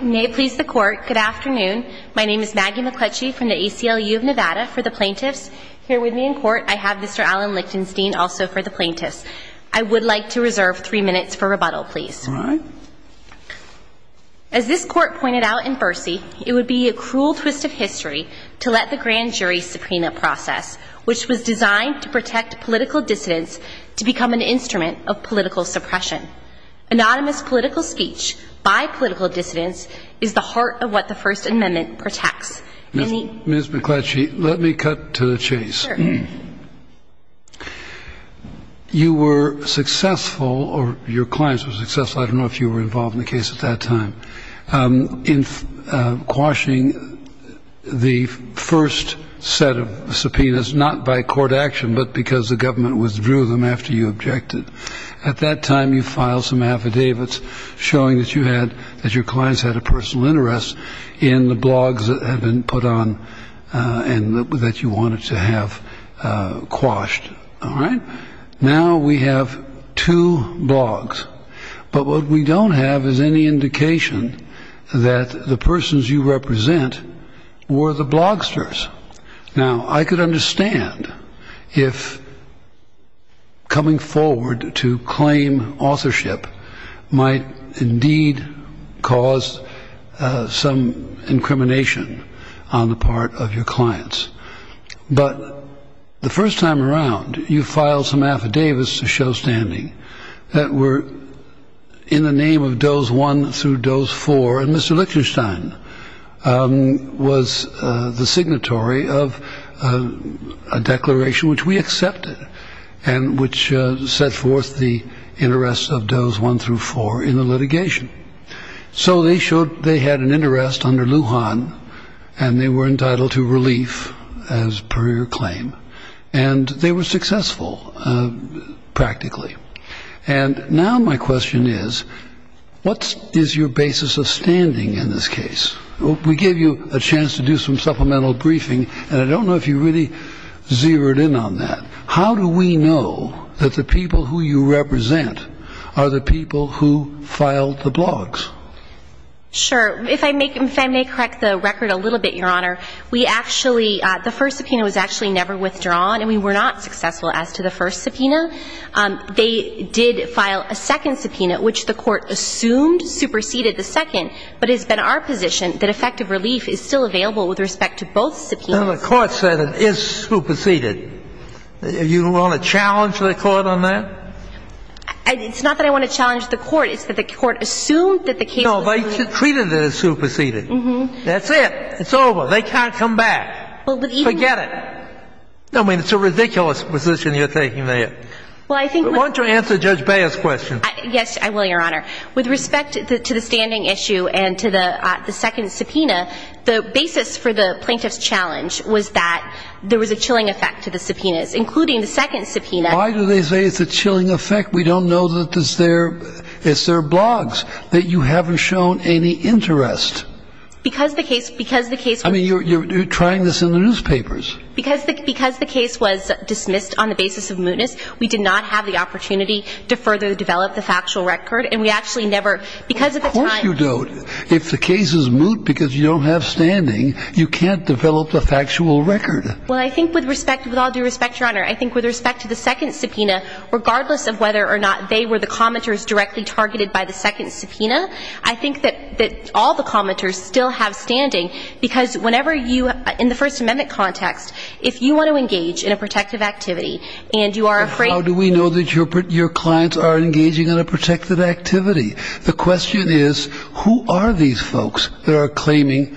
May it please the Court, good afternoon. My name is Maggie McCletchie from the ACLU of Nevada for the Plaintiffs. Here with me in court, I have Mr. Alan Lichtenstein, also for the Plaintiffs. I would like to reserve three minutes for rebuttal, please. As this Court pointed out in Bercy, it would be a cruel twist of history to let the grand jury suprema process, which was designed to protect political dissidents, to become an the heart of what the First Amendment protects. Ms. McCletchie, let me cut to the chase. You were successful, or your clients were successful, I don't know if you were involved in the case at that time, in quashing the first set of subpoenas, not by court action, but because the government withdrew them after you objected. At that time, you filed some affidavits showing that your clients had a personal interest in the blogs that had been put on and that you wanted to have quashed. Now we have two blogs, but what we don't have is any indication that the persons you represent were the blogsters. Now, I could understand if coming forward to claim authorship might indeed cause some incrimination on the part of your clients. But the first time around, you filed some affidavits to show standing that were in the name of Dose 1 through Dose 4, and Mr. Lichtenstein was the signatory of a declaration which we accepted, and which set forth the interests of Dose 1 through 4 in the litigation. So they showed they had an interest under Lujan, and they were entitled to relief, as per your claim, and they were successful, practically. And now my question is, what is your basis of standing in this case? We gave you a chance to do some supplemental briefing, and I don't know if you really zeroed in on that. How do we know that the people who you represent are the people who filed the blogs? Sure. If I may correct the record a little bit, Your Honor, we actually, the first subpoena was actually never withdrawn, and we were not successful as to the first subpoena. They did file a second subpoena, which the Court assumed superseded the second, but it's been our position that effective relief is still available with respect to both subpoenas. And the Court said it is superseded. You want to challenge the Court on that? It's not that I want to challenge the Court. It's that the Court assumed that the case was superseded. No, they treated it as superseded. That's it. It's over. They can't come back. Forget about it. I mean, it's a ridiculous position you're taking there. Well, I think we're going to answer Judge Beyer's question. Yes, I will, Your Honor. With respect to the standing issue and to the second subpoena, the basis for the plaintiff's challenge was that there was a chilling effect to the subpoenas, including the second subpoena. Why do they say it's a chilling effect? We don't know that it's their blogs, that you haven't shown any interest. Because the case, because the case was You're trying this in the newspapers. Because the case was dismissed on the basis of mootness, we did not have the opportunity to further develop the factual record. And we actually never, because of the time Of course you don't. If the case is moot because you don't have standing, you can't develop the factual record. Well, I think with respect, with all due respect, Your Honor, I think with respect to the second subpoena, regardless of whether or not they were the commenters directly targeted by the second subpoena, I think that all the commenters still have standing. Because whenever you, in the First Amendment context, if you want to engage in a protective activity and you are afraid How do we know that your clients are engaging in a protective activity? The question is, who are these folks that are claiming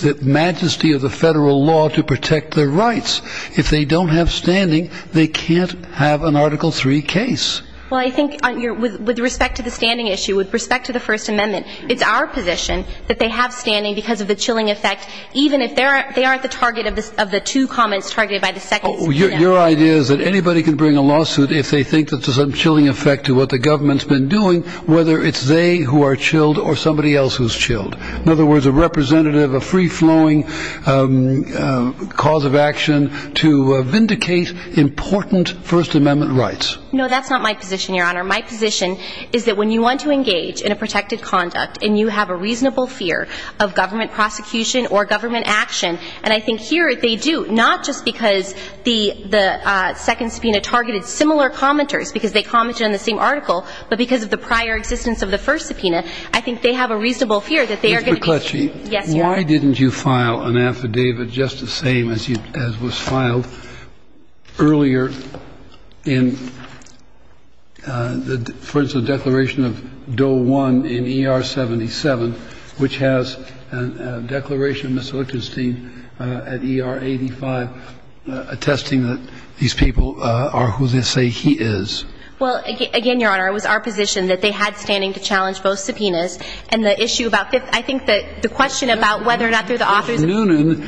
the majesty of the Federal law to protect their rights? If they don't have standing, they can't have an Article III case. Well, I think with respect to the standing issue, with respect to the First Amendment, it's our position that they have standing because of the chilling effect, even if they aren't the target of the two comments targeted by the second subpoena. Your idea is that anybody can bring a lawsuit if they think that there's a chilling effect to what the government's been doing, whether it's they who are chilled or somebody else who's chilled. In other words, a representative, a free-flowing cause of action to vindicate important First Amendment rights. No, that's not my position, Your Honor. My position is that when you want to engage in protected conduct and you have a reasonable fear of government prosecution or government action, and I think here they do, not just because the second subpoena targeted similar commenters because they commented on the same article, but because of the prior existence of the first subpoena, I think they have a reasonable fear that they are going to be Mr. McClatchy, why didn't you file an affidavit just the same as was filed earlier in, for example, in ER-77, which has a declaration, Ms. Lichtenstein, at ER-85, attesting that these people are who they say he is. Well, again, Your Honor, it was our position that they had standing to challenge both subpoenas, and the issue about the, I think the question about whether or not through the authors of the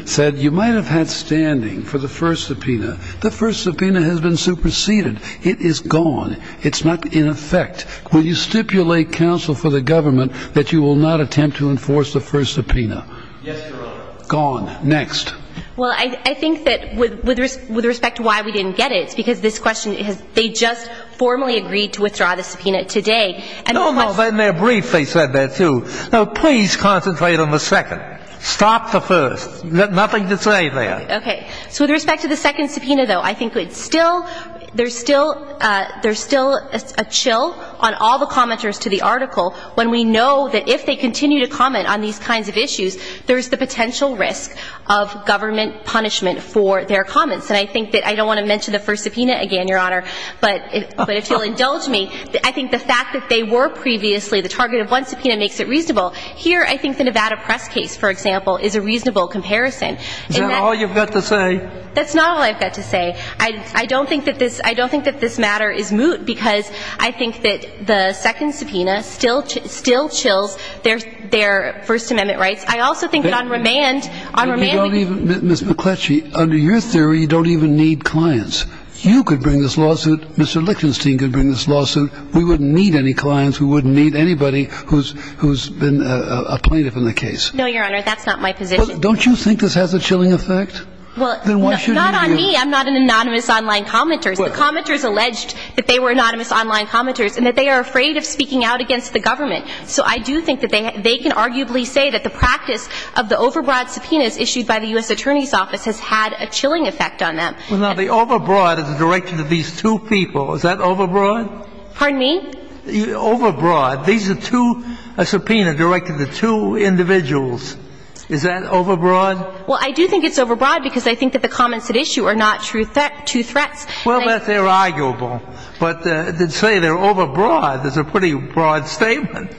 first subpoena, the first subpoena has been superseded. It is gone. It's not in effect. Will you stipulate, counsel for the government, that you will not attempt to enforce the first subpoena? Yes, Your Honor. Gone. Next. Well, I think that with respect to why we didn't get it, it's because this question has, they just formally agreed to withdraw the subpoena today, and of course No, no, but in their brief they said that too. Now, please concentrate on the second. Stop the first. Nothing to say there. Okay. So with respect to the second subpoena, though, I think it's still, there's still a chill on all the commenters to the article when we know that if they continue to comment on these kinds of issues, there's the potential risk of government punishment for their comments. And I think that I don't want to mention the first subpoena again, Your Honor, but if you'll indulge me, I think the fact that they were previously the target of one subpoena makes it reasonable. Here, I think the Nevada Press case, for example, is a reasonable comparison. Is that all you've got to say? That's not all I've got to say. I don't think that this, I don't think that this matter is moot because I think that the second subpoena still, still chills their, their First Amendment rights. I also think that on remand, on remand, we don't even Ms. McCletchie, under your theory, you don't even need clients. You could bring this lawsuit. Mr. Lichtenstein could bring this lawsuit. We wouldn't need any clients. We wouldn't need anybody who's, who's been a plaintiff in the case. No, Your Honor, that's not my position. Don't you think this has a chilling effect? Well, not on me. I'm not an anonymous online commenter. The commenters alleged that they were anonymous online commenters and that they are afraid of speaking out against the government. So I do think that they, they can arguably say that the practice of the overbroad subpoenas issued by the U.S. Attorney's Office has had a chilling effect on them. Well, now, the overbroad is directed to these two people. Is that overbroad? Pardon me? Overbroad. These are two, a subpoena directed to two individuals. Is that overbroad? Well, I do think it's overbroad because I think that the comments at issue are not true threat, true threats. Well, that they're arguable. But to say they're overbroad is a pretty broad statement.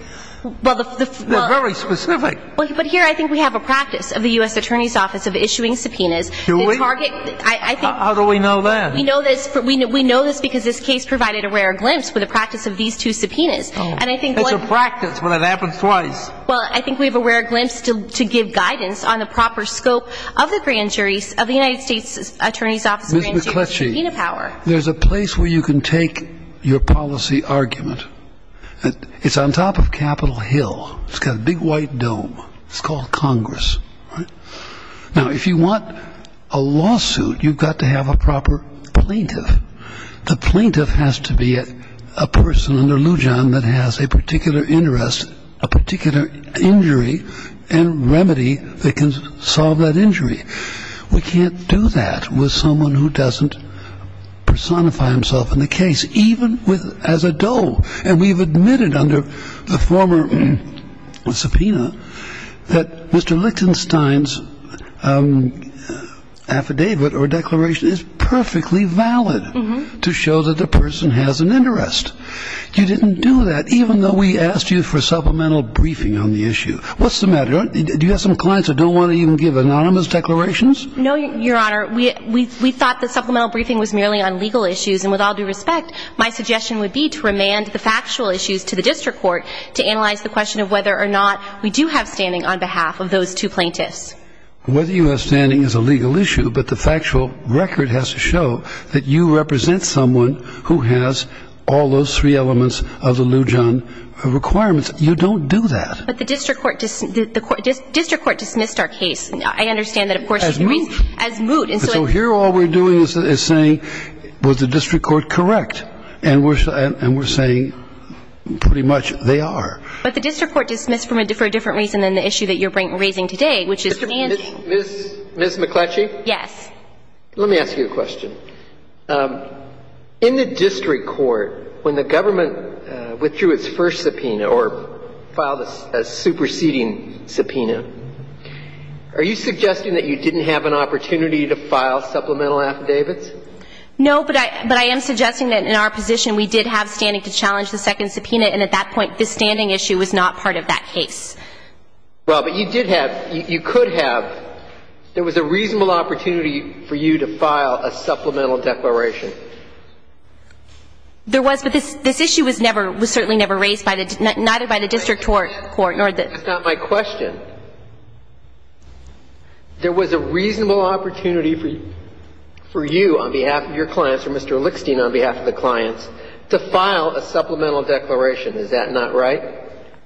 But the, the, well, They're very specific. Well, but here I think we have a practice of the U.S. Attorney's Office of issuing subpoenas. Do we? The target, I, I think How do we know that? We know this, we, we know this because this case provided a rare glimpse with the practice of these two subpoenas. And I think one It's a practice, but it happens twice. Well, I think we have a rare glimpse to, to give guidance on the proper scope of the grand jury, of the United States Attorney's Office grand jury McCletchie, there's a place where you can take your policy argument. It's on top of Capitol Hill. It's got a big white dome. It's called Congress, right? Now, if you want a lawsuit, you've got to have a proper plaintiff. The plaintiff has to be a, a person under Lou John that has a particular interest, a particular injury and remedy that can solve that injury. We can't do that with someone who doesn't personify himself in the case, even with, as a Doe. And we've admitted under the former subpoena that Mr. Lichtenstein's affidavit or declaration is perfectly valid to show that the person has an interest. You didn't do that, even though we asked you for supplemental briefing on the issue. What's the matter? Do you have some clients that don't want to even give anonymous declarations? No, Your Honor. We, we, we thought the supplemental briefing was merely on legal issues. And with all due respect, my suggestion would be to remand the factual issues to the district court to analyze the question of whether or not we do have standing on behalf of those two plaintiffs. Whether you have standing is a legal issue, but the factual record has to show that you represent someone who has all those three elements of the Lou John requirements. You don't do that. But the district court, the district court dismissed our case. I understand that of course as moot, as moot. And so here, all we're doing is saying, was the district court correct? And we're, and we're saying pretty much they are. But the district court dismissed for a different reason than the issue that you're raising today, which is to answer. Ms. McClatchy? Yes. Let me ask you a question. In the district court, when the government withdrew its first subpoena, or filed a superseding subpoena, are you suggesting that you didn't have an opportunity to file supplemental affidavits? No, but I, but I am suggesting that in our position, we did have standing to challenge the second subpoena. And at that point, the standing issue was not part of that case. Well, but you did have, you could have. There was a reasonable opportunity for you to file a supplemental declaration. There was, but this issue was never, was certainly never raised by the, neither by the district court, nor the – That's not my question. There was a reasonable opportunity for, for you on behalf of your clients, or Mr. Lickstein on behalf of the clients, to file a supplemental declaration. Is that not right?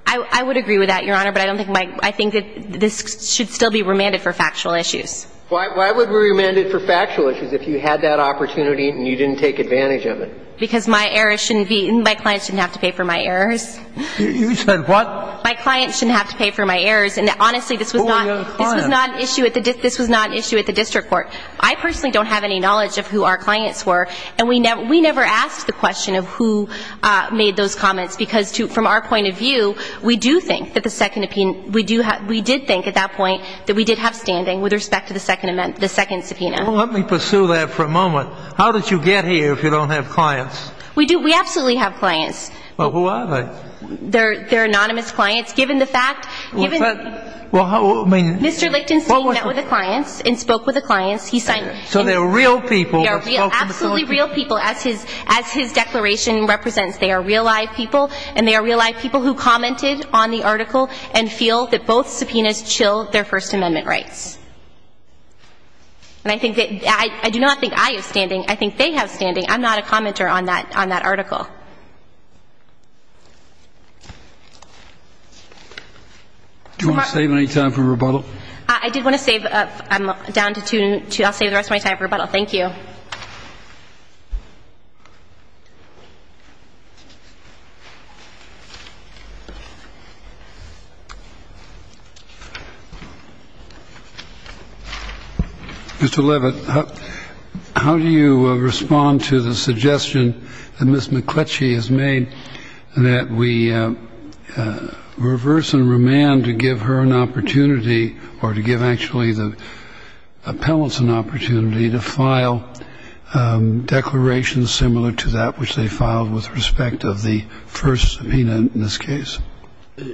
I, I would agree with that, Your Honor. But I don't think my, I think that this should still be remanded for factual issues. Why, why would we remand it for factual issues if you had that opportunity and you didn't take advantage of it? Because my errors shouldn't be, my clients shouldn't have to pay for my errors. You said what? My clients shouldn't have to pay for my errors. And honestly, this was not – For your clients. This was not an issue at the, this was not an issue at the district court. I personally don't have any knowledge of who our clients were. And we never, we never asked the question of who made those comments. Because to, from our point of view, we do think that the second subpoena, we do have, we did think at that point that we did have standing with respect to the second amendment, the second subpoena. Well, let me pursue that for a moment. How did you get here if you don't have clients? We do, we absolutely have clients. Well, who are they? They're, they're anonymous clients. Given the fact, given the – Well, is that, well, I mean – Mr. Lichtenstein met with the clients and spoke with the clients. He signed – So they're real people that spoke to the – They are absolutely real people as his, as his declaration represents. They are real live people and they are real live people who commented on the article and feel that both subpoenas chill their First Amendment rights. And I think that, I do not think I have standing, I think they have standing. I'm not a commenter on that, on that article. Do you want to save any time for rebuttal? I did want to save, I'm down to two, I'll save the rest of my time for rebuttal. Thank you. Mr. Levitt, how do you respond to the suggestion that Ms. McCletchie has made that we reverse and remand to give her an opportunity, or to give actually the appellants an opportunity to file declarations similar to that which they filed with respect of the first subpoena in this case?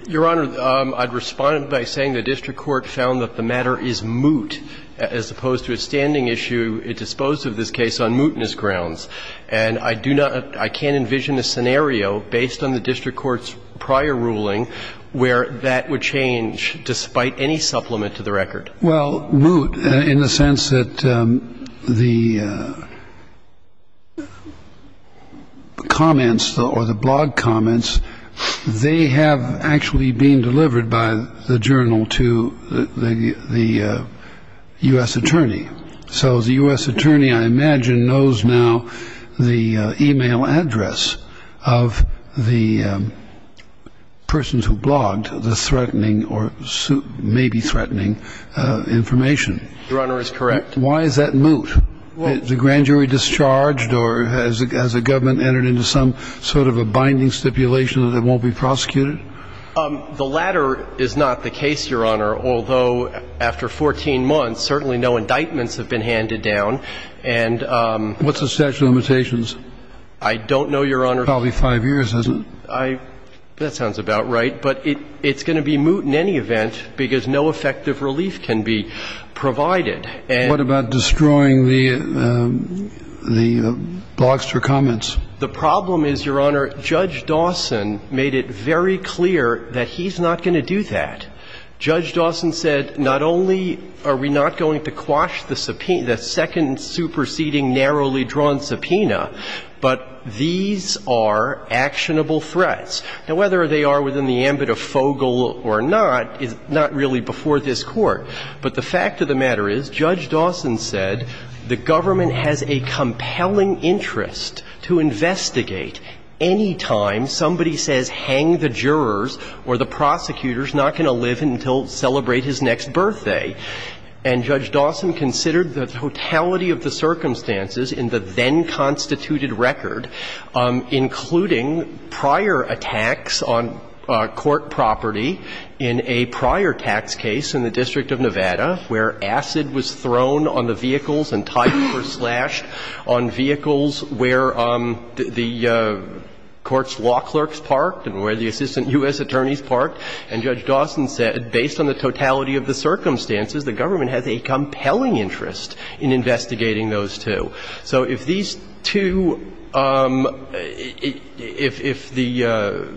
Your Honor, I'd respond by saying the district court found that the matter is moot as opposed to a standing issue disposed of this case on mootness grounds. And I do not – I can't envision a scenario based on the district court's prior ruling where that would change despite any supplement to the record. Well, moot in the sense that the comments, or the blog comments, they have, they have actually been delivered by the journal to the U.S. attorney. So the U.S. attorney, I imagine, knows now the e-mail address of the persons who blogged the threatening, or maybe threatening information. Your Honor is correct. Why is that moot? Is the grand jury discharged, or has the government entered into some sort of a binding stipulation that it won't be prosecuted? The latter is not the case, Your Honor. Although, after 14 months, certainly no indictments have been handed down. And – What's the statute of limitations? I don't know, Your Honor. Probably five years, isn't it? That sounds about right. But it's going to be moot in any event because no effective relief can be provided. What about destroying the blogster comments? The problem is, Your Honor, Judge Dawson made it very clear that he's not going to do that. Judge Dawson said, not only are we not going to quash the second superseding narrowly drawn subpoena, but these are actionable threats. Now, whether they are within the ambit of Fogel or not, is not really before this Court. But the fact of the matter is, Judge Dawson said, the government has a compelling interest to investigate any time somebody says, hang the jurors or the prosecutors, not going to live until it celebrates his next birthday. And Judge Dawson considered the totality of the circumstances in the then-constituted record, including prior attacks on court property in a prior tax case in the District of Nevada, where acid was thrown on the vehicles and tires were slashed on vehicles where the court's law clerks parked and where the assistant U.S. attorneys parked. And Judge Dawson said, based on the totality of the circumstances, the government has a compelling interest in investigating those two. So if these two, if the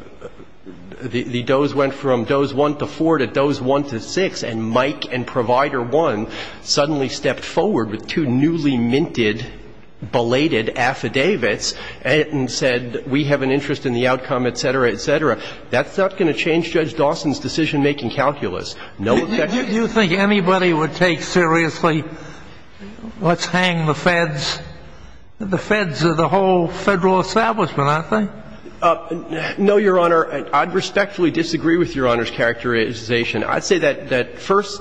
does went from does 1 to 4 to does 1 to 6, and Mike and Provider 1 suddenly stepped forward with two newly minted, belated affidavits and said, we have an interest in the outcome, et cetera, et cetera, that's not going to change Judge Dawson's decision-making calculus, no effect. Do you think anybody would take seriously, let's hang the feds? The feds are the whole Federal establishment, aren't they? No, Your Honor. I'd respectfully disagree with Your Honor's characterization. I'd say that that first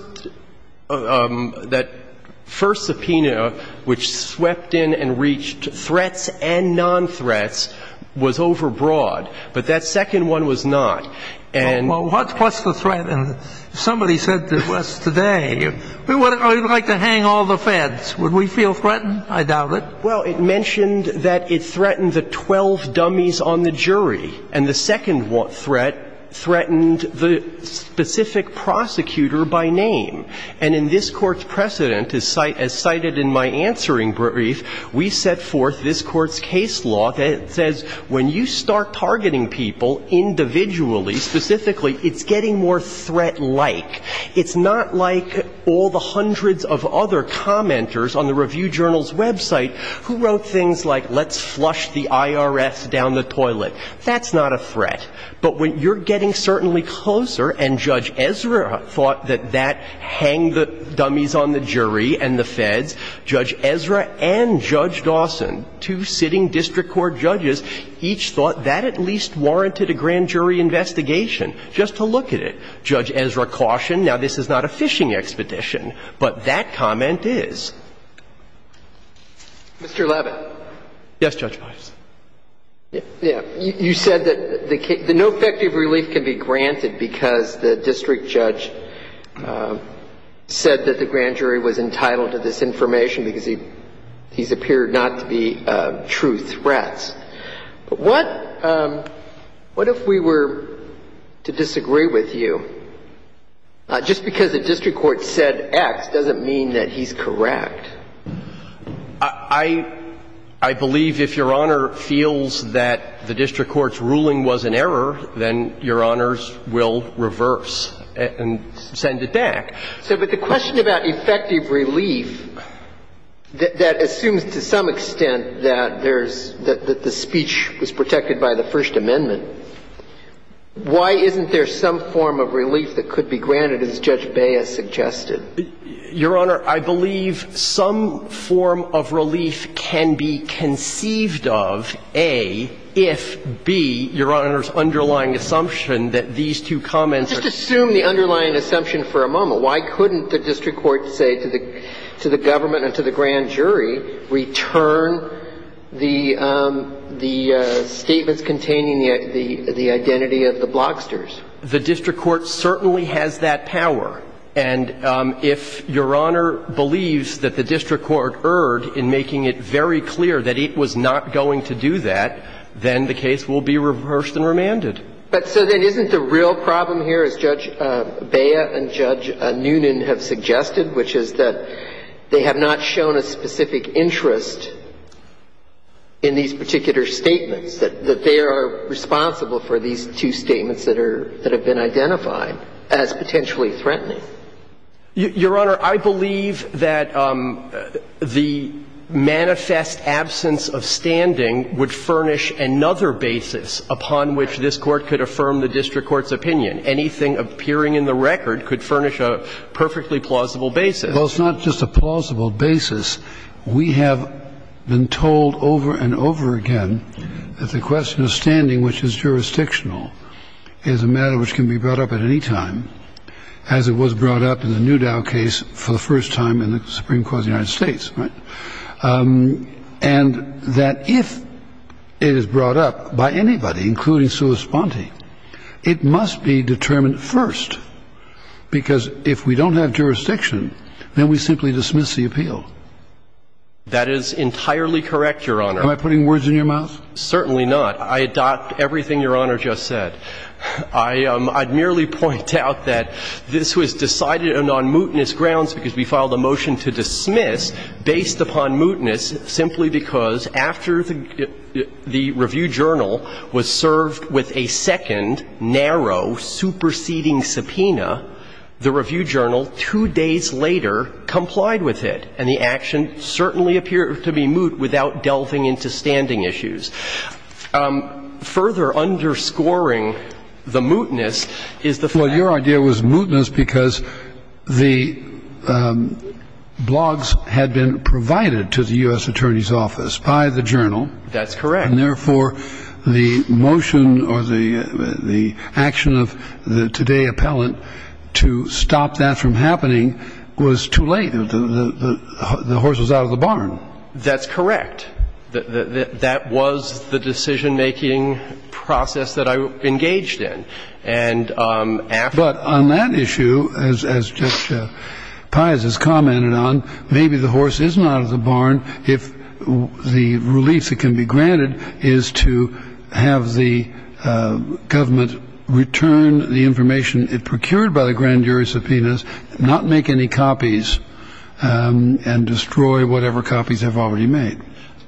subpoena, which swept in and reached threats and non-threats, was overbroad, but that second one was not. Well, what's the threat? And somebody said to us today, I'd like to hang all the feds. Would we feel threatened? I doubt it. Well, it mentioned that it threatened the 12 dummies on the jury, and the second threat threatened the specific prosecutor by name. And in this Court's precedent, as cited in my answering brief, we set forth this Court's case law that says when you start targeting people individually, specifically, it's getting more threat-like. It's not like all the hundreds of other commenters on the Review Journal's website who wrote things like, let's flush the IRS down the toilet. That's not a threat. But when you're getting certainly closer, and Judge Ezra thought that that hanged the dummies on the jury and the feds, Judge Ezra and Judge Dawson, two sitting district court judges, each thought that at least warranted a grand jury investigation just to look at it. Judge Ezra cautioned. Now, this is not a fishing expedition, but that comment is. Mr. Labott. Yes, Judge Pius. You said that the no effective relief can be granted because the district judge said that the grand jury was entitled to this information because he's appeared not to be true threats. But what if we were to disagree with you? Just because a district court said X doesn't mean that he's correct. I believe if Your Honor feels that the district court's ruling was an error, then Your Honors will reverse and send it back. But the question about effective relief, that assumes to some extent that there's the speech was protected by the First Amendment. Why isn't there some form of relief that could be granted, as Judge Baez suggested? Your Honor, I believe some form of relief can be conceived of, A, if B, Your Honor's underlying assumption that these two comments are. Just assume the underlying assumption for a moment. Why couldn't the district court say to the government and to the grand jury, return the statements containing the identity of the blocksters? The district court certainly has that power. And if Your Honor believes that the district court erred in making it very clear that it was not going to do that, then the case will be reversed and remanded. But so then isn't the real problem here, as Judge Baez and Judge Noonan have suggested, which is that they have not shown a specific interest in these particular statements, that they are responsible for these two statements that have been identified as potentially threatening? Your Honor, I believe that the manifest absence of standing would furnish another basis upon which this Court could affirm the district court's opinion. Anything appearing in the record could furnish a perfectly plausible basis. Well, it's not just a plausible basis. We have been told over and over again that the question of standing, which is jurisdictional, is a matter which can be brought up at any time, as it was brought up in the Newdow case for the first time in the Supreme Court of the United States, right? And that if it is brought up by anybody, including sua sponte, it must be determined first because if we don't have jurisdiction, then we simply dismiss the appeal. That is entirely correct, Your Honor. Am I putting words in your mouth? Certainly not. I adopt everything Your Honor just said. I merely point out that this was decided on mootness grounds because we filed a motion to dismiss based upon mootness simply because after the review journal was served with a second, narrow, superseding subpoena, the review journal, two days later, complied with it. And the action certainly appeared to be moot without delving into standing issues. Further underscoring the mootness is the fact that... Well, your idea was mootness because the blogs had been provided to the U.S. Attorney's Office by the journal. That's correct. And therefore, the motion or the action of the today appellant to stop that from happening was too late. The horse was out of the barn. That's correct. That was the decision-making process that I engaged in. And after... But on that issue, as Judge Pius has commented on, maybe the horse isn't out of the barn if the relief that can be granted is to have the government return the information it procured by the grand jury subpoenas, not make any copies, and destroy whatever copies they've already made.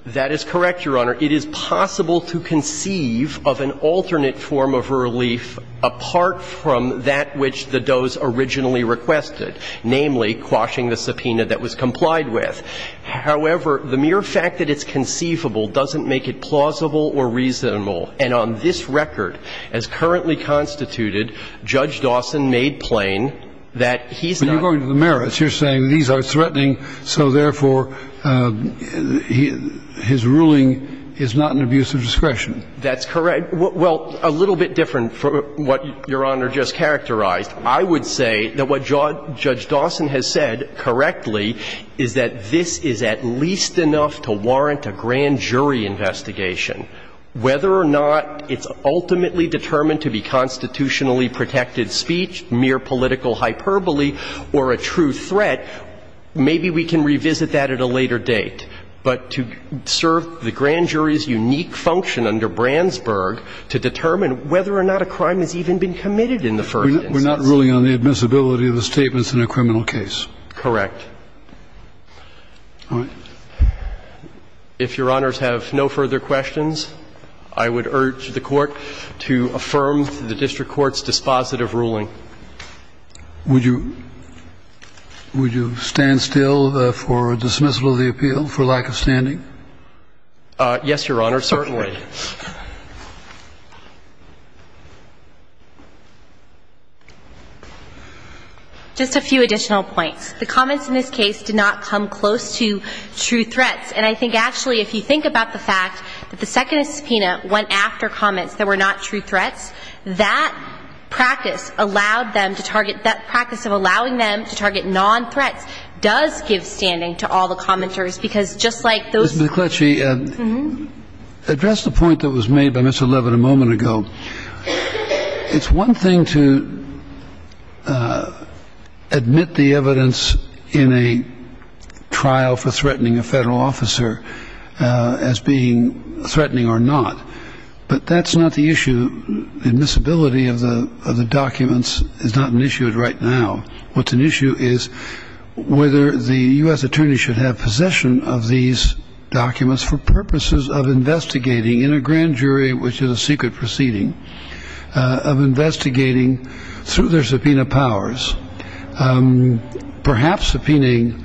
That is correct, Your Honor. It is possible to conceive of an alternate form of relief apart from that which the does originally requested, namely, quashing the subpoena that was complied with. However, the mere fact that it's conceivable doesn't make it plausible or reasonable. And on this record, as currently constituted, Judge Dawson made plain that he's not... But you're going to the merits. You're saying these are threatening, so, therefore, his ruling is not an abuse of discretion. That's correct. Well, a little bit different from what Your Honor just characterized. I would say that what Judge Dawson has said correctly is that this is at least enough to warrant a grand jury investigation. Whether or not it's ultimately determined to be constitutionally protected speech, mere political hyperbole, or a true threat, maybe we can revisit that at a later date. But to serve the grand jury's unique function under Brandsburg to determine whether or not a crime has even been committed in the first instance... We're not ruling on the admissibility of the statements in a criminal case. Correct. All right. If Your Honors have no further questions, I would urge the Court to affirm the district court's dispositive ruling. Would you stand still for dismissal of the appeal for lack of standing? Yes, Your Honor, certainly. Just a few additional points. The comments in this case did not come close to true threats. And I think, actually, if you think about the fact that the second subpoena went after comments that were not true threats, that practice allowed them to target that practice of allowing them to target non-threats does give standing to all the commenters, because just like those... That's the point that was made by Mr. Levin a moment ago. It's one thing to admit the evidence in a trial for threatening a federal officer as being threatening or not, but that's not the issue. Admissibility of the documents is not an issue right now. What's an issue is whether the U.S. Attorney should have possession of these documents for purposes of investigating in a grand jury, which is a secret proceeding, of investigating through their subpoena powers, perhaps subpoenaing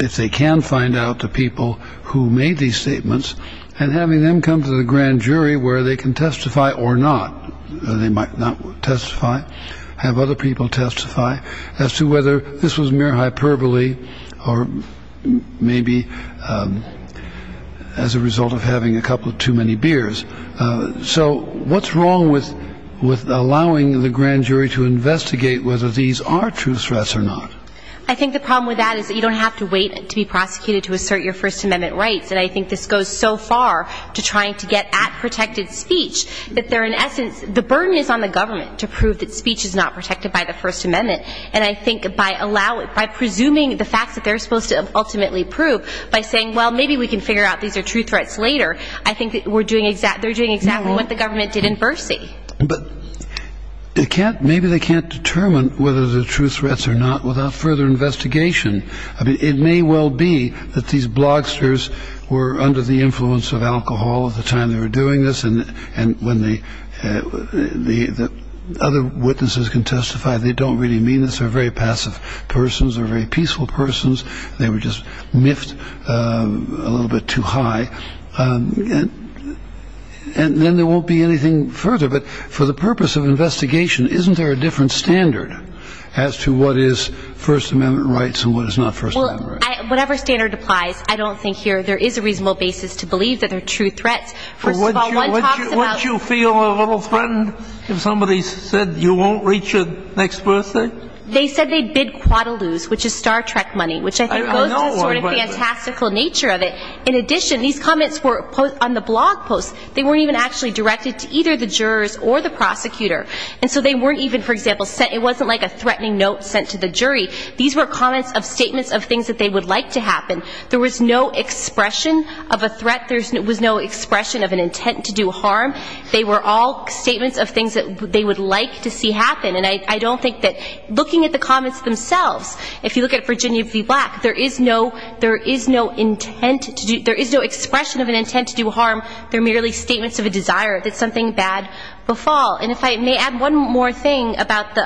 if they can find out the people who made these statements, and having them come to the grand jury where they can testify or not. They might not testify, have other people testify, as to whether this was mere hyperbole or maybe as a result of having a couple too many beers. So what's wrong with allowing the grand jury to investigate whether these are true threats or not? I think the problem with that is that you don't have to wait to be prosecuted to assert your First Amendment rights, and I think this goes so far to trying to get at protected speech that they're, in essence, the burden is on the government to prove that speech is not protected by the First Amendment. And I think by presuming the facts that they're supposed to ultimately prove, by saying, well, maybe we can figure out these are true threats later, I think they're doing exactly what the government did in Bercy. But maybe they can't determine whether they're true threats or not without further investigation. It may well be that these blogsters were under the influence of alcohol at the time they were doing this, and when the other witnesses can testify, they don't really mean this. They're very passive persons. They're very peaceful persons. They were just miffed a little bit too high. And then there won't be anything further. But for the purpose of investigation, isn't there a different standard as to what is First Amendment rights and what is not First Amendment rights? Whatever standard applies, I don't think here there is a reasonable basis to believe that they're true threats. First of all, one talks about... But wouldn't you feel a little threatened if somebody said you won't reach your next birthday? They said they'd bid quite a lose, which is Star Trek money, which I think goes to the sort of fantastical nature of it. In addition, these comments were on the blog posts. They weren't even actually directed to either the jurors or the prosecutor. And so they weren't even, for example, sent – it wasn't like a threatening note sent to the jury. These were comments of statements of things that they would like to happen. There was no expression of a threat. There was no expression of an intent to do harm. They were all statements of things that they would like to see happen. And I don't think that – looking at the comments themselves, if you look at Virginia v. Black, there is no – there is no intent to do – there is no expression of an intent to do harm. They're merely statements of a desire that something bad will fall. And if I may add one more thing about the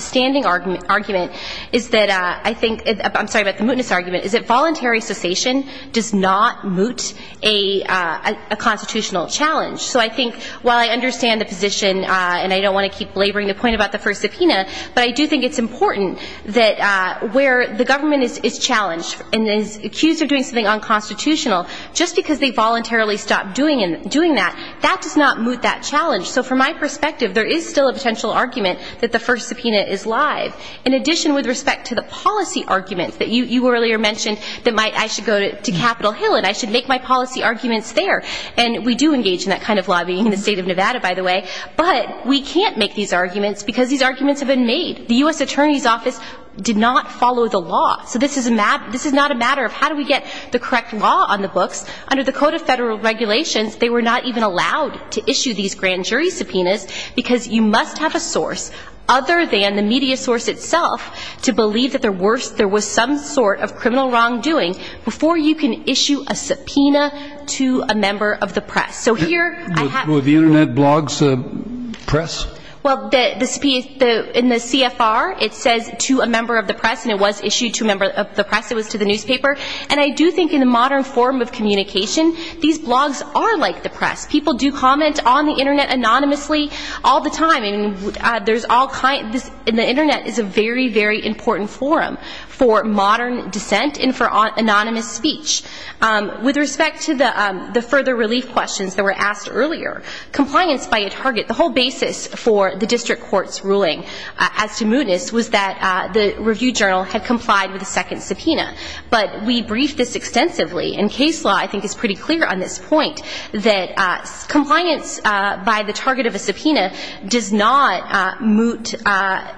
standing argument is that I think – I'm sorry about the mootness argument – is that voluntary cessation does not moot a constitutional challenge. So I think while I understand the position and I don't want to keep laboring the point about the first subpoena, but I do think it's important that where the government is challenged and is accused of doing something unconstitutional just because they voluntarily stopped doing that, that does not moot that challenge. So from my perspective, there is still a potential argument that the first subpoena is live. In addition, with respect to the policy arguments that you earlier mentioned, that I should go to Capitol Hill and I should make my policy arguments there. And we do engage in that kind of lobbying in the state of Nevada, by the way. But we can't make these arguments because these arguments have been made. The U.S. Attorney's Office did not follow the law. So this is not a matter of how do we get the correct law on the books. Under the Code of Federal Regulations, they were not even allowed to issue these grand jury subpoenas because you must have a source other than the media source itself to believe that there was some sort of criminal wrongdoing before you can issue a subpoena to a member of the press. So here I have... Were the Internet blogs press? Well, in the CFR, it says to a member of the press and it was issued to a member of the press. It was to the newspaper. these blogs are like the press. People do comment on the Internet anonymously all the time. There's all kinds... The Internet is a very, very important forum for modern dissent and for anonymous speech. With respect to the further relief questions that were asked earlier, compliance by a target, the whole basis for the district court's ruling as to mootness was that the review journal had complied with a second subpoena. But we briefed this extensively. And case law, I think, is pretty clear on this point that compliance by the target of a subpoena does not moot...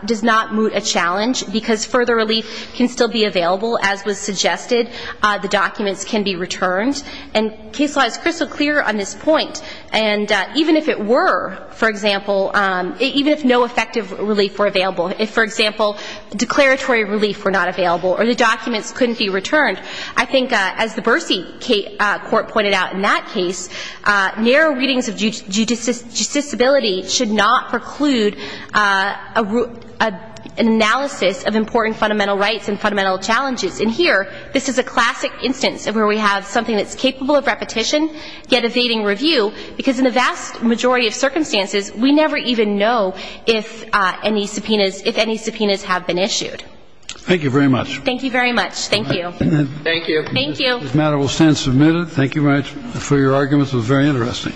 does not moot a challenge because further relief can still be available. As was suggested, the documents can be returned. And case law is crystal clear on this point. And even if it were, for example... Even if no effective relief were available, if, for example, declaratory relief were not available or the documents couldn't be returned, I think, as the Bercy court pointed out in that case, narrow readings of justiciability should not preclude an analysis of important fundamental rights and fundamental challenges. And here, this is a classic instance where we have something that's capable of repetition yet evading review because in the vast majority of circumstances, we never even know if any subpoenas have been issued. Thank you very much. Thank you very much. Thank you. Thank you. This matter will stand submitted. Thank you very much for your arguments. It was very interesting.